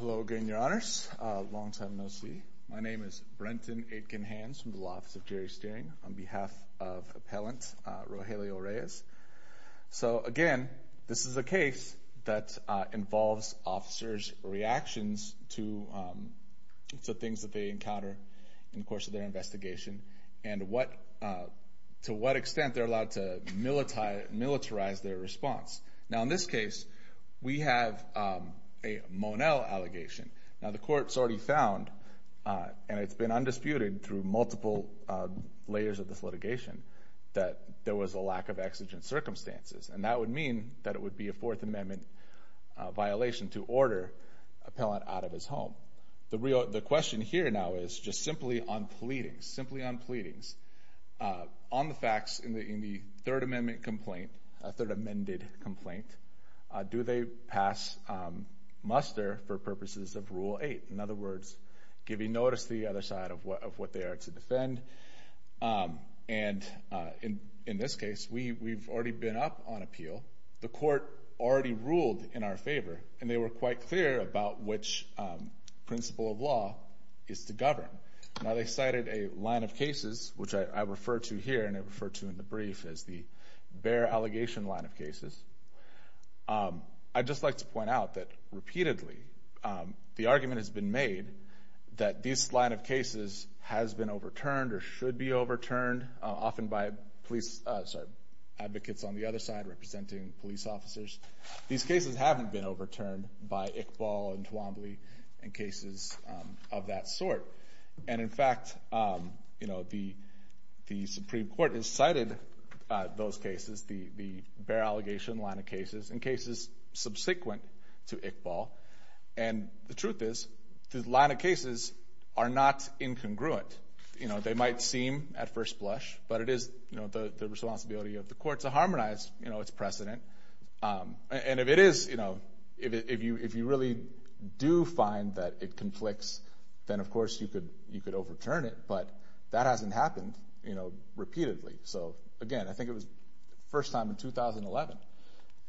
Hello again, your honors. Long time no see. My name is Brenton Aitkenhans from the Law Office of Jury Steering on behalf of Appellant Rogelio Reyes. So again, this is a case that involves officers' reactions to things that they encounter in the course of their investigation and to what extent they're allowed to militarize their response. Now in this case, we have a Monell allegation. Now the court's already found, and it's been undisputed through multiple layers of this litigation, that there was a lack of exigent circumstances. And that would mean that it would be a Fourth Amendment violation to order an appellant out of his home. The question here now is just simply on pleadings. Simply on pleadings. On the facts in the Third Amendment complaint, Third Amended complaint, do they pass muster for purposes of Rule 8? In other words, giving notice to the other side of what they are to defend. And in this case, we've already been up on appeal. The court already ruled in our favor. And they were quite clear about which principle of law is to govern. Now they cited a line of cases, which I refer to here and I refer to in the brief as the Behr allegation line of cases. I'd just like to point out that repeatedly, the argument has been made that this line of cases has been overturned or should be overturned, often by advocates on the other side representing police officers. These cases haven't been overturned by Iqbal and Toomblee and cases of that sort. And in fact, the Supreme Court has cited those cases, the Behr allegation line of cases and cases subsequent to Iqbal. And the truth is this line of cases are not incongruent. They might seem at first blush, but it is the responsibility of the court to harmonize its precedent. And if it is, you know, if you really do find that it conflicts, then of course you could overturn it. But that hasn't happened, you know, repeatedly. So again, I think it was the first time in 2011.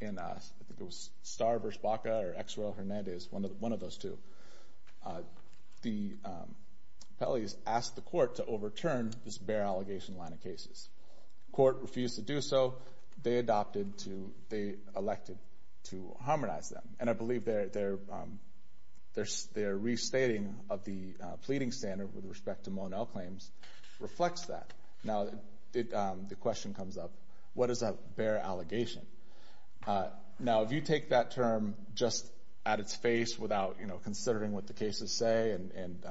And I think it was Starr v. Baca or X. Roe v. Hernandez, one of those two. The appellees asked the court to overturn this Behr allegation line of cases. The court refused to do so. They adopted to, they elected to harmonize them. And I believe their restating of the pleading standard with respect to Monell claims reflects that. Now, the question comes up, what is a Behr allegation? Now, if you take that term just at its face without, you know, considering what the cases say and,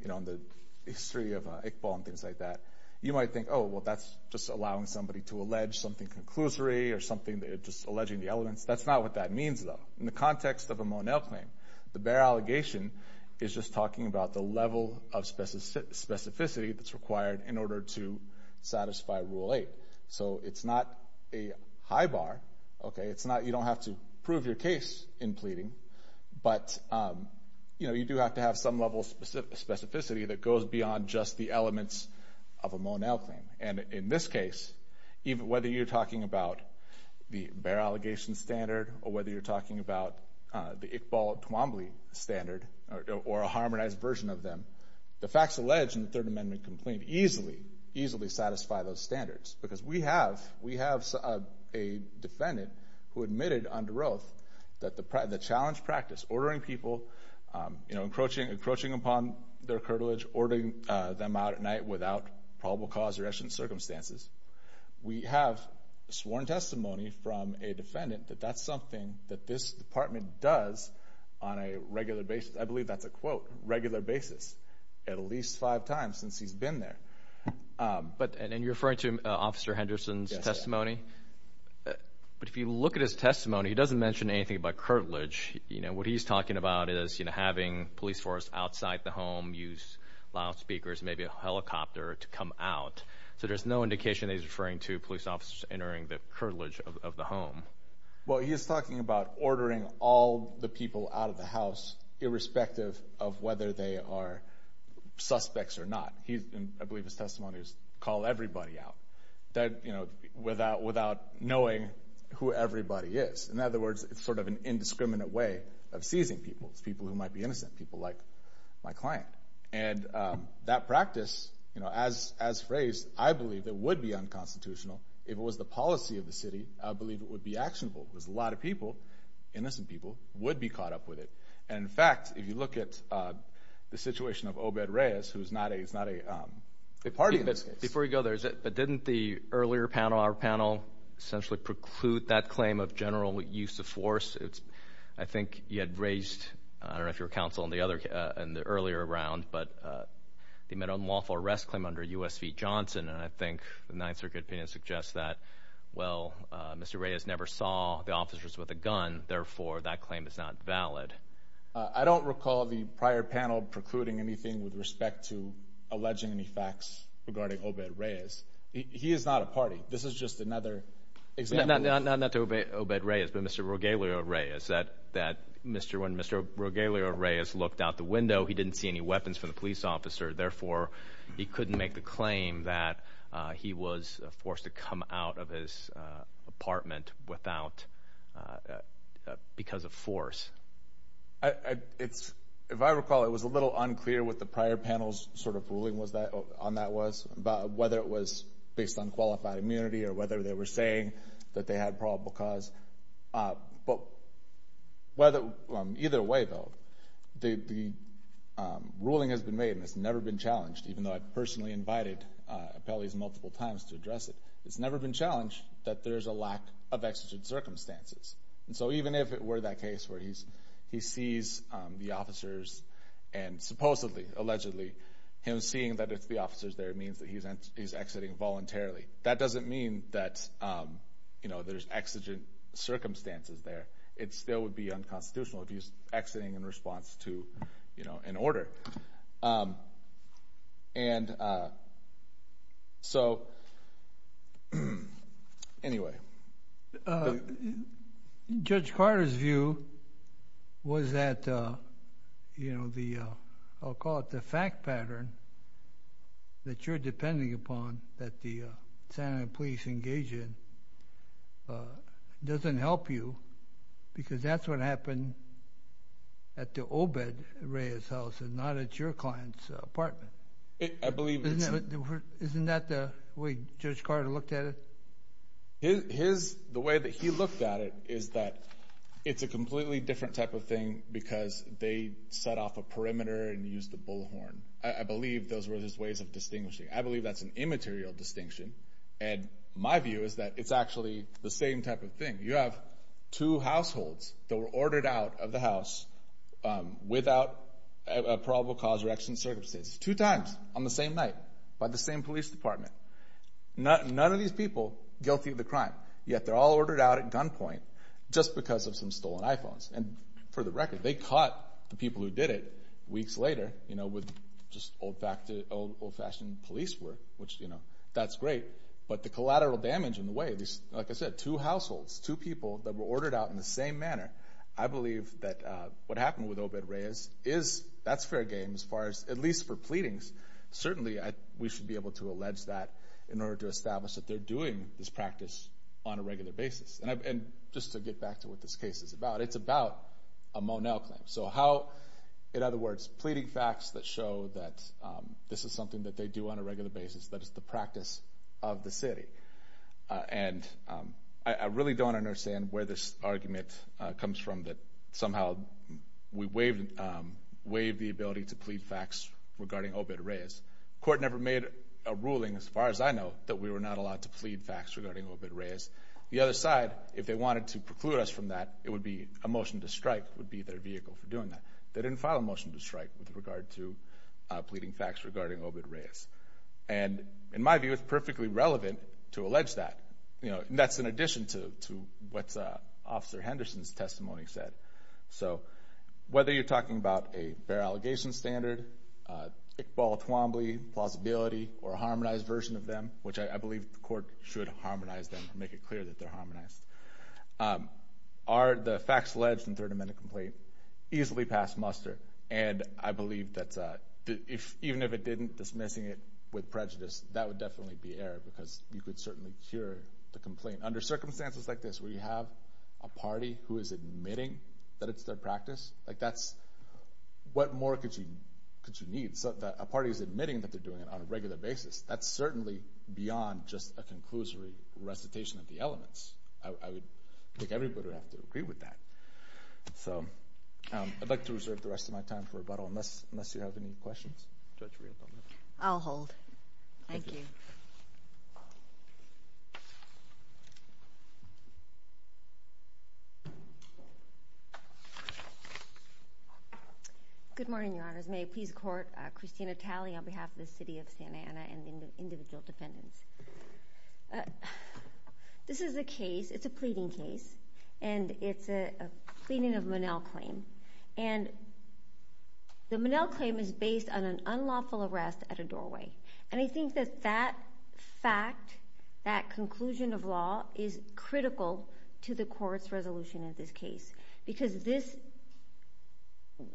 you know, the history of Iqbal and things like that, you might think, oh, well, that's just allowing somebody to allege something conclusory or something, just alleging the elements. That's not what that means, though. In the context of a Monell claim, the Behr allegation is just talking about the level of specificity that's required in order to satisfy Rule 8. So it's not a high bar, okay. It's not, you don't have to prove your case in pleading. But, you know, you do have to have some level of specificity that goes beyond just the elements of a Monell claim. And in this case, whether you're talking about the Behr allegation standard or whether you're talking about the Iqbal-Twombly standard or a harmonized version of them, the facts alleged in the Third Amendment complaint easily, easily satisfy those standards. Because we have a defendant who admitted under oath that the challenge practice, ordering people, you know, encroaching upon their cartilage, ordering them out at night without probable cause or extant circumstances, we have sworn testimony from a defendant that that's something that this department does on a regular basis. I believe that's a quote, regular basis, at least five times since he's been there. And you're referring to Officer Henderson's testimony? Yes. But if you look at his testimony, he doesn't mention anything about cartilage. You know, what he's talking about is, you know, having police force outside the home use loudspeakers, maybe a helicopter to come out. So there's no indication that he's referring to police officers entering the cartilage of the home. Well, he is talking about ordering all the people out of the house irrespective of whether they are suspects or not. I believe his testimony is call everybody out, you know, without knowing who everybody is. In other words, it's sort of an indiscriminate way of seizing people, people who might be innocent, people like my client. And that practice, you know, as phrased, I believe it would be unconstitutional if it was the policy of the city. I believe it would be actionable because a lot of people, innocent people, would be caught up with it. And, in fact, if you look at the situation of Obed Reyes, who is not a party in this case. Before we go there, but didn't the earlier panel, our panel, essentially preclude that claim of general use of force? I think you had raised, I don't know if you were counsel in the earlier round, but they made an unlawful arrest claim under U.S. v. Johnson. And I think the Ninth Circuit opinion suggests that, well, Mr. Reyes never saw the officers with a gun. Therefore, that claim is not valid. I don't recall the prior panel precluding anything with respect to alleging any facts regarding Obed Reyes. He is not a party. This is just another example. Not to Obed Reyes, but Mr. Rogelio Reyes, that when Mr. Rogelio Reyes looked out the window, he didn't see any weapons from the police officer. Therefore, he couldn't make the claim that he was forced to come out of his apartment because of force. If I recall, it was a little unclear what the prior panel's sort of ruling on that was, whether it was based on qualified immunity or whether they were saying that they had probable cause. But either way, though, the ruling has been made and it's never been challenged, even though I've personally invited appellees multiple times to address it. It's never been challenged that there's a lack of exigent circumstances. And so even if it were that case where he sees the officers and supposedly, allegedly, him seeing that it's the officers there means that he's exiting voluntarily, that doesn't mean that there's exigent circumstances there. It still would be unconstitutional if he's exiting in response to an order. And so, anyway. Judge Carter's view was that the, I'll call it the fact pattern, that you're depending upon that the Santa Ana police engage in doesn't help you because that's what happened at the Obed Reyes house and not at your client's apartment. Isn't that the way Judge Carter looked at it? The way that he looked at it is that it's a completely different type of thing because they set off a perimeter and used the bullhorn. I believe those were his ways of distinguishing. I believe that's an immaterial distinction, and my view is that it's actually the same type of thing. You have two households that were ordered out of the house without a probable cause or exigent circumstances, two times on the same night by the same police department. None of these people guilty of the crime, yet they're all ordered out at gunpoint just because of some stolen iPhones. And for the record, they caught the people who did it weeks later with just old-fashioned police work, which, you know, that's great. But the collateral damage in the way these, like I said, two households, two people that were ordered out in the same manner, I believe that what happened with Obed Reyes is that's fair game as far as at least for pleadings. Certainly, we should be able to allege that in order to establish that they're doing this practice on a regular basis. And just to get back to what this case is about, it's about a Monell claim. So how, in other words, pleading facts that show that this is something that they do on a regular basis, that it's the practice of the city. And I really don't understand where this argument comes from that somehow we waive the ability to plead facts regarding Obed Reyes. The court never made a ruling, as far as I know, that we were not allowed to plead facts regarding Obed Reyes. The other side, if they wanted to preclude us from that, it would be a motion to strike would be their vehicle for doing that. They didn't file a motion to strike with regard to pleading facts regarding Obed Reyes. And in my view, it's perfectly relevant to allege that. And that's in addition to what Officer Henderson's testimony said. So whether you're talking about a fair allegation standard, Iqbal Twombly plausibility, or a harmonized version of them, which I believe the court should harmonize them and make it clear that they're harmonized, are the facts alleged in third amendment complaint easily past muster? And I believe that even if it didn't, dismissing it with prejudice, that would definitely be error, because you could certainly cure the complaint. Under circumstances like this, where you have a party who is admitting that it's their practice, what more could you need? So if a party's admitting that they're doing it on a regular basis, that's certainly beyond just a conclusory recitation of the elements. I would think everybody would have to agree with that. So I'd like to reserve the rest of my time for rebuttal, unless you have any questions. I'll hold. Thank you. Good morning, Your Honors. May I please court Christina Talley on behalf of the city of Santa Ana and individual defendants? This is a case, it's a pleading case, and it's a pleading of Monell claim. And the Monell claim is based on an unlawful arrest at a doorway. And I think that that fact, that conclusion of law, is critical to the court's resolution in this case, because this,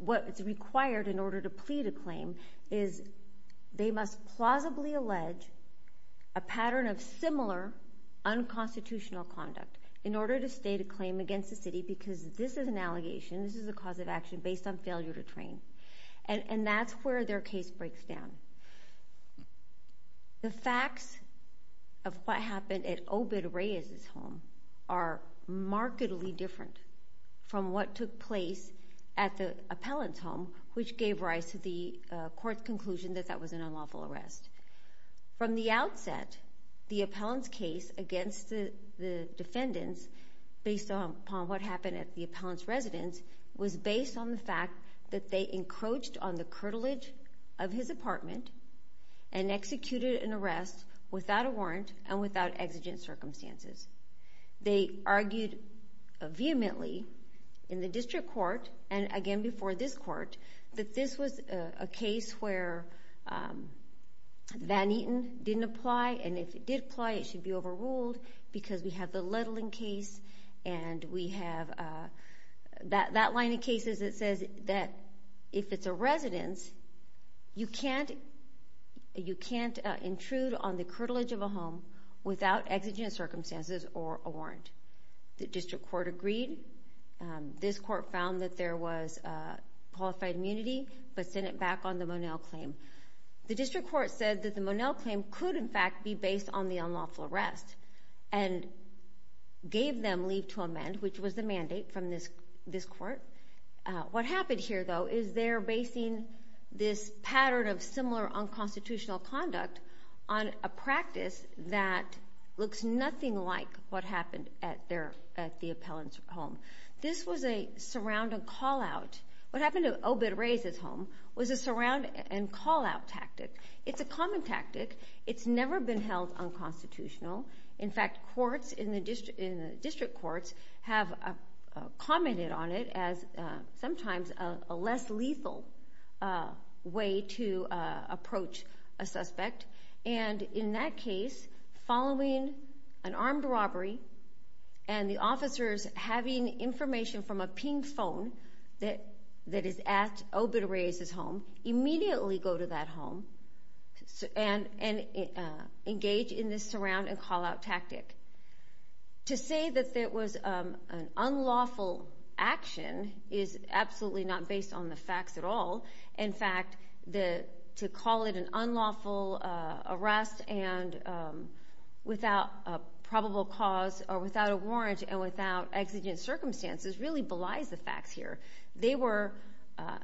what is required in order to plead a claim, is they must plausibly allege a pattern of similar unconstitutional conduct in order to state a claim against the city, because this is an allegation, this is a cause of action based on failure to train. And that's where their case breaks down. The facts of what happened at Obed Reyes' home are markedly different from what took place at the appellant's home, which gave rise to the court's conclusion that that was an unlawful arrest. From the outset, the appellant's case against the defendants, based upon what happened at the appellant's residence, was based on the fact that they encroached on the curtilage of his apartment and executed an arrest without a warrant and without exigent circumstances. They argued vehemently in the district court and, again, before this court, that this was a case where Van Eaton didn't apply, and if it did apply, it should be overruled because we have the Ledling case and we have that line of cases that says that if it's a residence, you can't intrude on the curtilage of a home without exigent circumstances or a warrant. The district court agreed. This court found that there was qualified immunity but sent it back on the Monell claim. The district court said that the Monell claim could, in fact, be based on the unlawful arrest and gave them leave to amend, which was the mandate from this court. What happened here, though, is they're basing this pattern of similar unconstitutional conduct on a practice that looks nothing like what happened at the appellant's home. This was a surround and call-out. What happened at Obed Reyes' home was a surround and call-out tactic. It's a common tactic. It's never been held unconstitutional. In fact, courts in the district courts have commented on it as sometimes a less lethal way to approach a suspect. And in that case, following an armed robbery and the officers having information from a ping phone that is at Obed Reyes' home, immediately go to that home and engage in this surround and call-out tactic. To say that there was an unlawful action is absolutely not based on the facts at all. In fact, to call it an unlawful arrest without a probable cause or without a warrant and without exigent circumstances really belies the facts here. They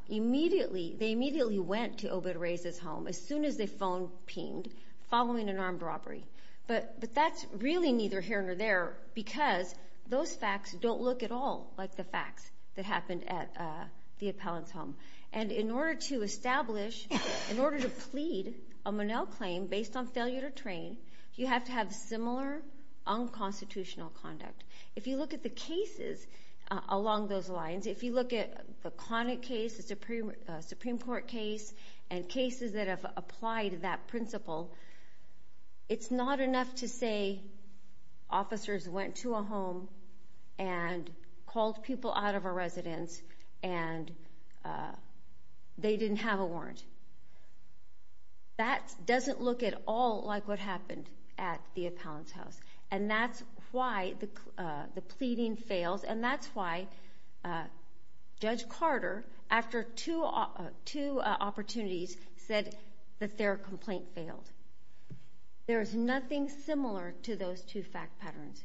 immediately went to Obed Reyes' home as soon as the phone pinged following an armed robbery. But that's really neither here nor there because those facts don't look at all like the facts that happened at the appellant's home. And in order to establish, in order to plead a Monell claim based on failure to train, you have to have similar unconstitutional conduct. If you look at the cases along those lines, if you look at the Connick case, the Supreme Court case, and cases that have applied that principle, it's not enough to say officers went to a home and called people out of a residence and they didn't have a warrant. That doesn't look at all like what happened at the appellant's house. And that's why the pleading fails. And that's why Judge Carter, after two opportunities, said that their complaint failed. There is nothing similar to those two fact patterns.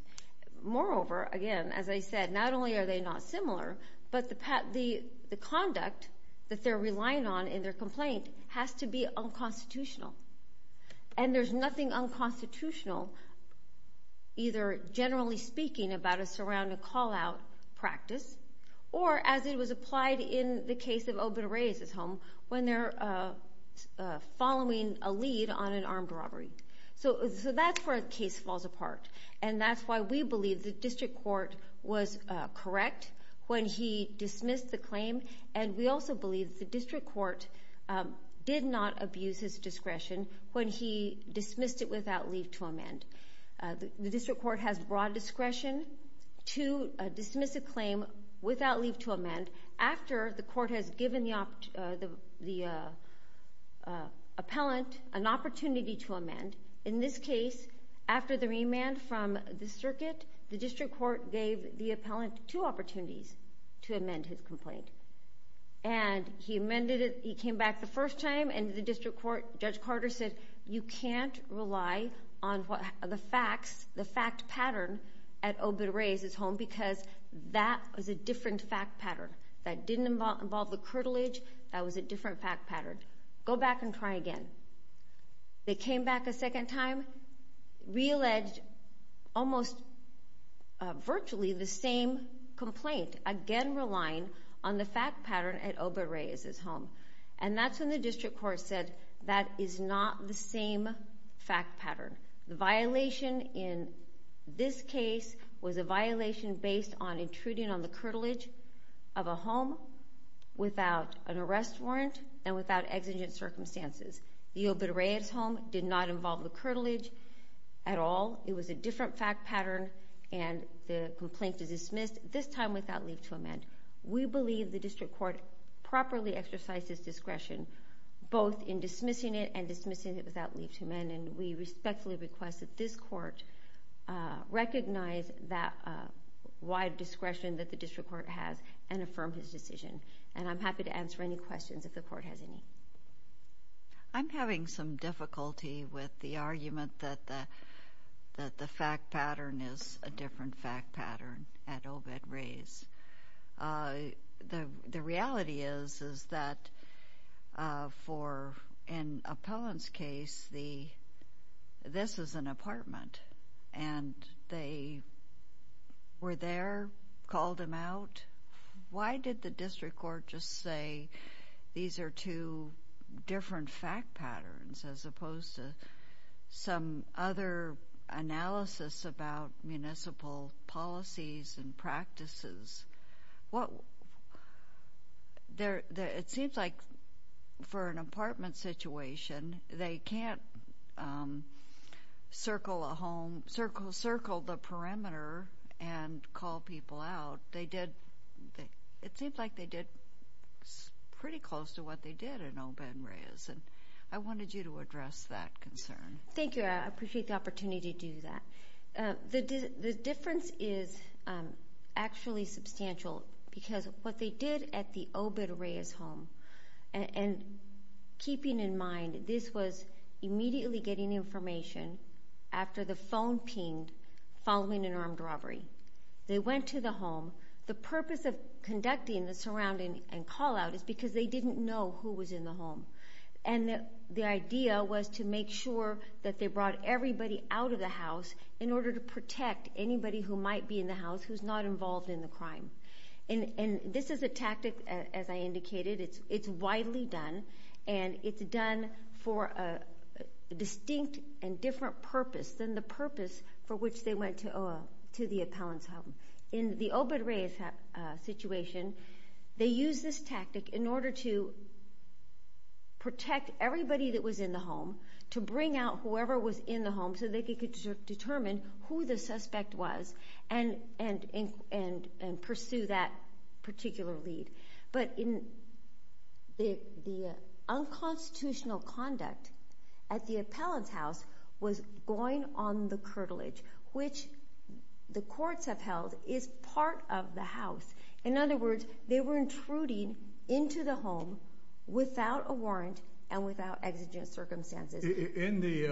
Moreover, again, as I said, not only are they not similar, but the conduct that they're relying on in their complaint has to be unconstitutional. And there's nothing unconstitutional either, generally speaking, about a surrounding call-out practice or, as it was applied in the case of Obed Reyes' home, when they're following a lead on an armed robbery. So that's where the case falls apart. And that's why we believe the district court was correct when he dismissed the claim, and we also believe the district court did not abuse his discretion when he dismissed it without leave to amend. The district court has broad discretion to dismiss a claim without leave to amend after the court has given the appellant an opportunity to amend. In this case, after the remand from the circuit, the district court gave the appellant two opportunities to amend his complaint. And he amended it. He came back the first time, and the district court, Judge Carter said, you can't rely on the facts, the fact pattern at Obed Reyes' home because that was a different fact pattern. That didn't involve the curtilage. That was a different fact pattern. Go back and try again. They came back a second time, realleged almost virtually the same complaint, again relying on the fact pattern at Obed Reyes' home. And that's when the district court said that is not the same fact pattern. The violation in this case was a violation based on intruding on the curtilage of a home without an arrest warrant and without exigent circumstances. The Obed Reyes' home did not involve the curtilage at all. It was a different fact pattern, and the complaint is dismissed, this time without leave to amend. We believe the district court properly exercises discretion, both in dismissing it and dismissing it without leave to amend, and we respectfully request that this court recognize that wide discretion that the district court has and affirm his decision. And I'm happy to answer any questions if the court has any. I'm having some difficulty with the argument that the fact pattern is a different fact pattern at Obed Reyes'. The reality is that for an appellant's case, this is an apartment, and they were there, called him out. Why did the district court just say these are two different fact patterns as opposed to some other analysis about municipal policies and practices? It seems like for an apartment situation, they can't circle the perimeter and call people out. It seems like they did pretty close to what they did in Obed Reyes'. I wanted you to address that concern. Thank you. I appreciate the opportunity to do that. The difference is actually substantial because what they did at the Obed Reyes' home, and keeping in mind this was immediately getting information after the phone pinged following an armed robbery. They went to the home. The purpose of conducting the surrounding and call-out is because they didn't know who was in the home, and the idea was to make sure that they brought everybody out of the house in order to protect anybody who might be in the house who's not involved in the crime. This is a tactic, as I indicated. It's widely done, and it's done for a distinct and different purpose than the purpose for which they went to the appellant's home. In the Obed Reyes' situation, they used this tactic in order to protect everybody that was in the home, to bring out whoever was in the home so they could determine who the suspect was and pursue that particular lead. But the unconstitutional conduct at the appellant's house was going on the curtilage, which the courts have held is part of the house. In other words, they were intruding into the home without a warrant and without exigent circumstances. In the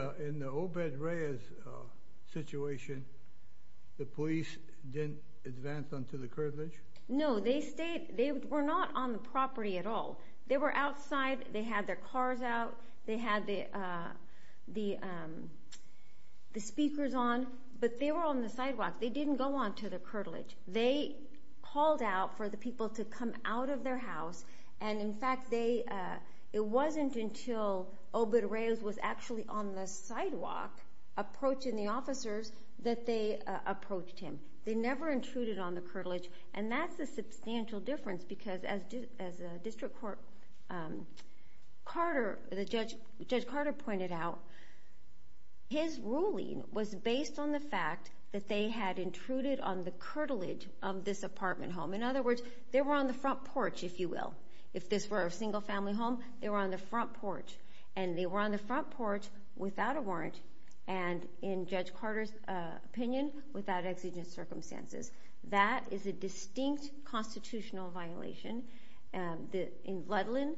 Obed Reyes' situation, the police didn't advance onto the curtilage? No, they stayed. They were not on the property at all. They were outside. They had their cars out. They had the speakers on, but they were on the sidewalk. They didn't go onto the curtilage. They called out for the people to come out of their house, and in fact it wasn't until Obed Reyes was actually on the sidewalk approaching the officers that they approached him. They never intruded on the curtilage, and that's a substantial difference because as Judge Carter pointed out, his ruling was based on the fact that they had intruded on the curtilage of this apartment home. In other words, they were on the front porch, if you will. If this were a single-family home, they were on the front porch, and they were on the front porch without a warrant and, in Judge Carter's opinion, without exigent circumstances. That is a distinct constitutional violation. In Ludland,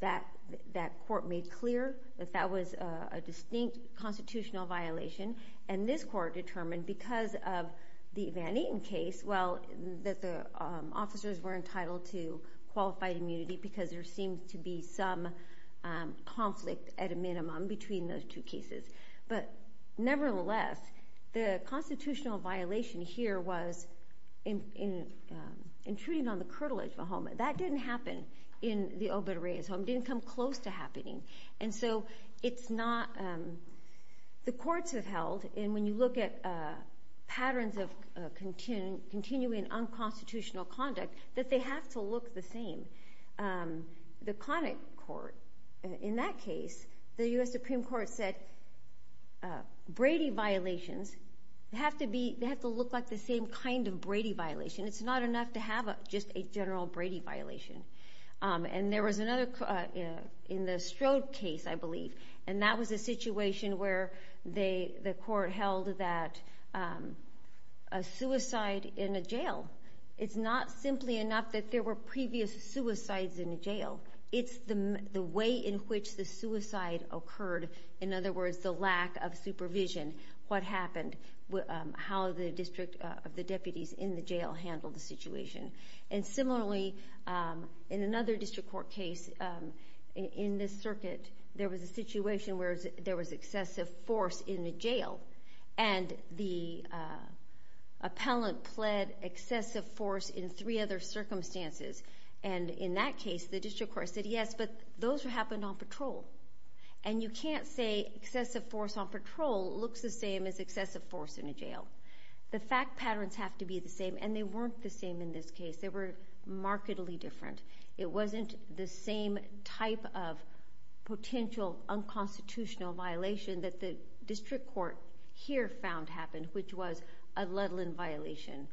that court made clear that that was a distinct constitutional violation, and this court determined because of the Van Etten case that the officers were entitled to qualified immunity because there seemed to be some conflict at a minimum between those two cases. But nevertheless, the constitutional violation here was intruding on the curtilage of a home. That didn't happen in the Obed Reyes home. It didn't come close to happening. And so it's not... The courts have held, and when you look at patterns of continuing unconstitutional conduct, that they have to look the same. The Connick Court, in that case, the U.S. Supreme Court said, Brady violations have to look like the same kind of Brady violation. It's not enough to have just a general Brady violation. And there was another, in the Strode case, I believe, and that was a situation where the court held that a suicide in a jail, it's not simply enough that there were previous suicides in a jail. It's the way in which the suicide occurred. In other words, the lack of supervision, what happened, And similarly, in another district court case, in this circuit, there was a situation where there was excessive force in a jail. And the appellant pled excessive force in three other circumstances. And in that case, the district court said, yes, but those happened on patrol. And you can't say excessive force on patrol looks the same as excessive force in a jail. The fact patterns have to be the same, and they weren't the same in this case. They were markedly different. It wasn't the same type of potential unconstitutional violation that the district court here found happened, which was a Ludland violation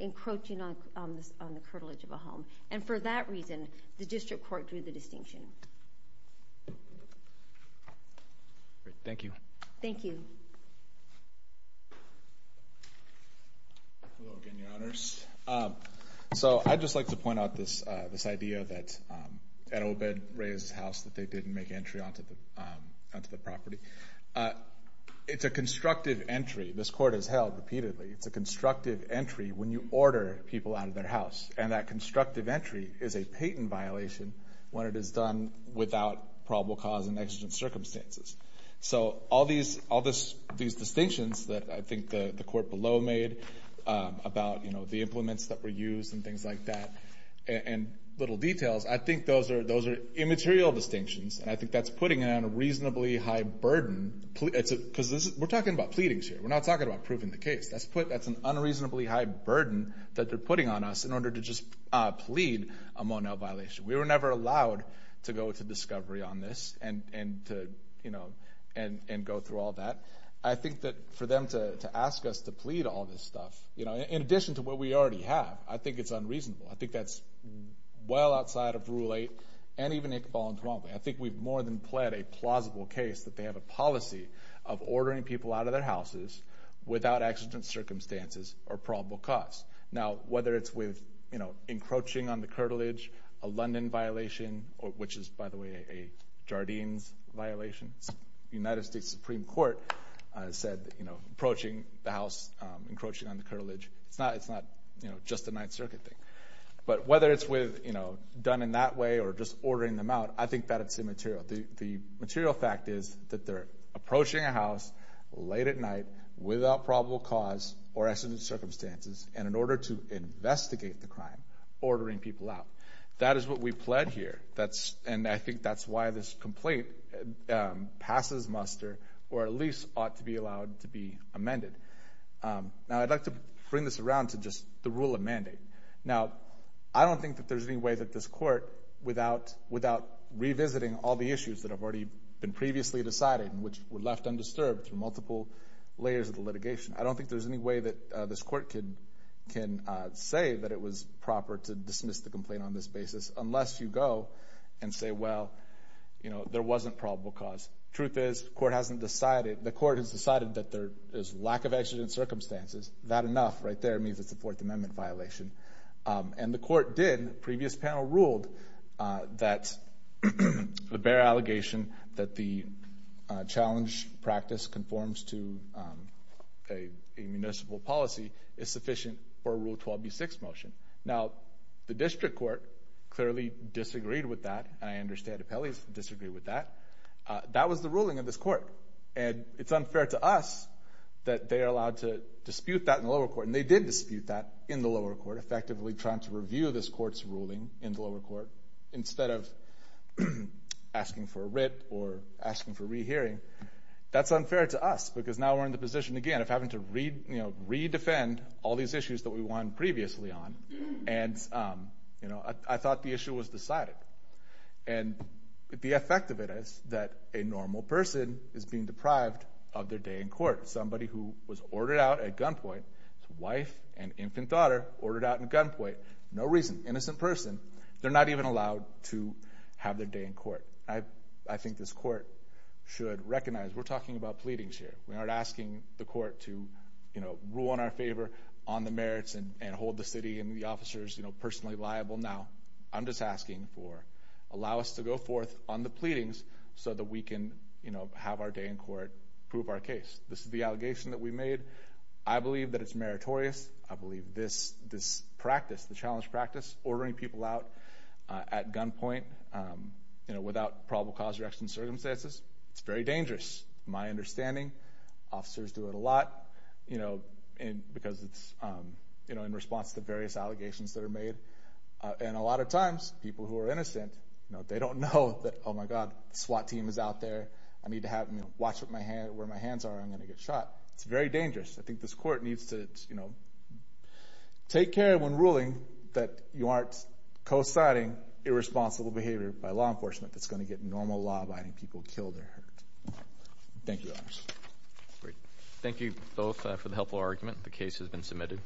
encroaching on the curtilage of a home. And for that reason, the district court drew the distinction. Thank you. Thank you. Hello again, Your Honors. So I'd just like to point out this idea that at Obed Reyes' house that they didn't make entry onto the property. It's a constructive entry. This court has held repeatedly. It's a constructive entry when you order people out of their house. And that constructive entry is a patent violation when it is done without probable cause and exigent circumstances. So all these distinctions that I think the court below made about the implements that were used and things like that and little details, I think those are immaterial distinctions, and I think that's putting it on a reasonably high burden. Because we're talking about pleadings here. We're not talking about proving the case. That's an unreasonably high burden that they're putting on us in order to just plead a Mon-El violation. We were never allowed to go to discovery on this and go through all that. I think that for them to ask us to plead all this stuff, in addition to what we already have, I think it's unreasonable. I think that's well outside of Rule 8, and even if it falls wrongly. I think we've more than pled a plausible case that they have a policy of ordering people out of their houses without exigent circumstances or probable cause. Now, whether it's with encroaching on the curtilage, a London violation, which is, by the way, a Jardines violation. The United States Supreme Court said approaching the house, encroaching on the curtilage. It's not just a Ninth Circuit thing. But whether it's done in that way or just ordering them out, I think that's immaterial. The material fact is that they're approaching a house late at night without probable cause or exigent circumstances, and in order to investigate the crime, ordering people out. That is what we pled here. And I think that's why this complaint passes muster or at least ought to be allowed to be amended. Now, I'd like to bring this around to just the rule of mandate. Now, I don't think that there's any way that this Court, without revisiting all the issues that have already been previously decided and which were left undisturbed through multiple layers of the litigation, I don't think there's any way that this Court can say that it was proper to dismiss the complaint on this basis unless you go and say, well, you know, there wasn't probable cause. The truth is the Court hasn't decided. The Court has decided that there is lack of exigent circumstances. That enough right there means it's a Fourth Amendment violation. And the Court did. And the previous panel ruled that the bare allegation that the challenge practice conforms to a municipal policy is sufficient for a Rule 12b-6 motion. Now, the District Court clearly disagreed with that, and I understand Appellee's disagreed with that. That was the ruling of this Court. And it's unfair to us that they are allowed to dispute that in the lower court. And they did dispute that in the lower court, effectively trying to review this Court's ruling in the lower court instead of asking for a writ or asking for rehearing. That's unfair to us because now we're in the position again of having to, you know, re-defend all these issues that we won previously on. And, you know, I thought the issue was decided. And the effect of it is that a normal person is being deprived of their day in court. Somebody who was ordered out at gunpoint, his wife and infant daughter ordered out at gunpoint, no reason, innocent person, they're not even allowed to have their day in court. I think this Court should recognize we're talking about pleadings here. We aren't asking the Court to, you know, rule in our favor on the merits and hold the city and the officers, you know, personally liable. Now, I'm just asking for allow us to go forth on the pleadings so that we can, you know, have our day in court, prove our case. This is the allegation that we made. I believe that it's meritorious. I believe this practice, the challenge practice, ordering people out at gunpoint, you know, without probable cause, direction, circumstances, it's very dangerous. My understanding, officers do it a lot, you know, because it's, you know, in response to various allegations that are made. And a lot of times, people who are innocent, you know, they don't know that, oh, my God, SWAT team is out there. I need to have them watch where my hands are or I'm going to get shot. It's very dangerous. I think this Court needs to, you know, take care when ruling that you aren't cosiding irresponsible behavior by law enforcement that's going to get normal law-abiding people killed or hurt. Thank you, Your Honors. Great. Thank you both for the helpful argument. The case has been submitted.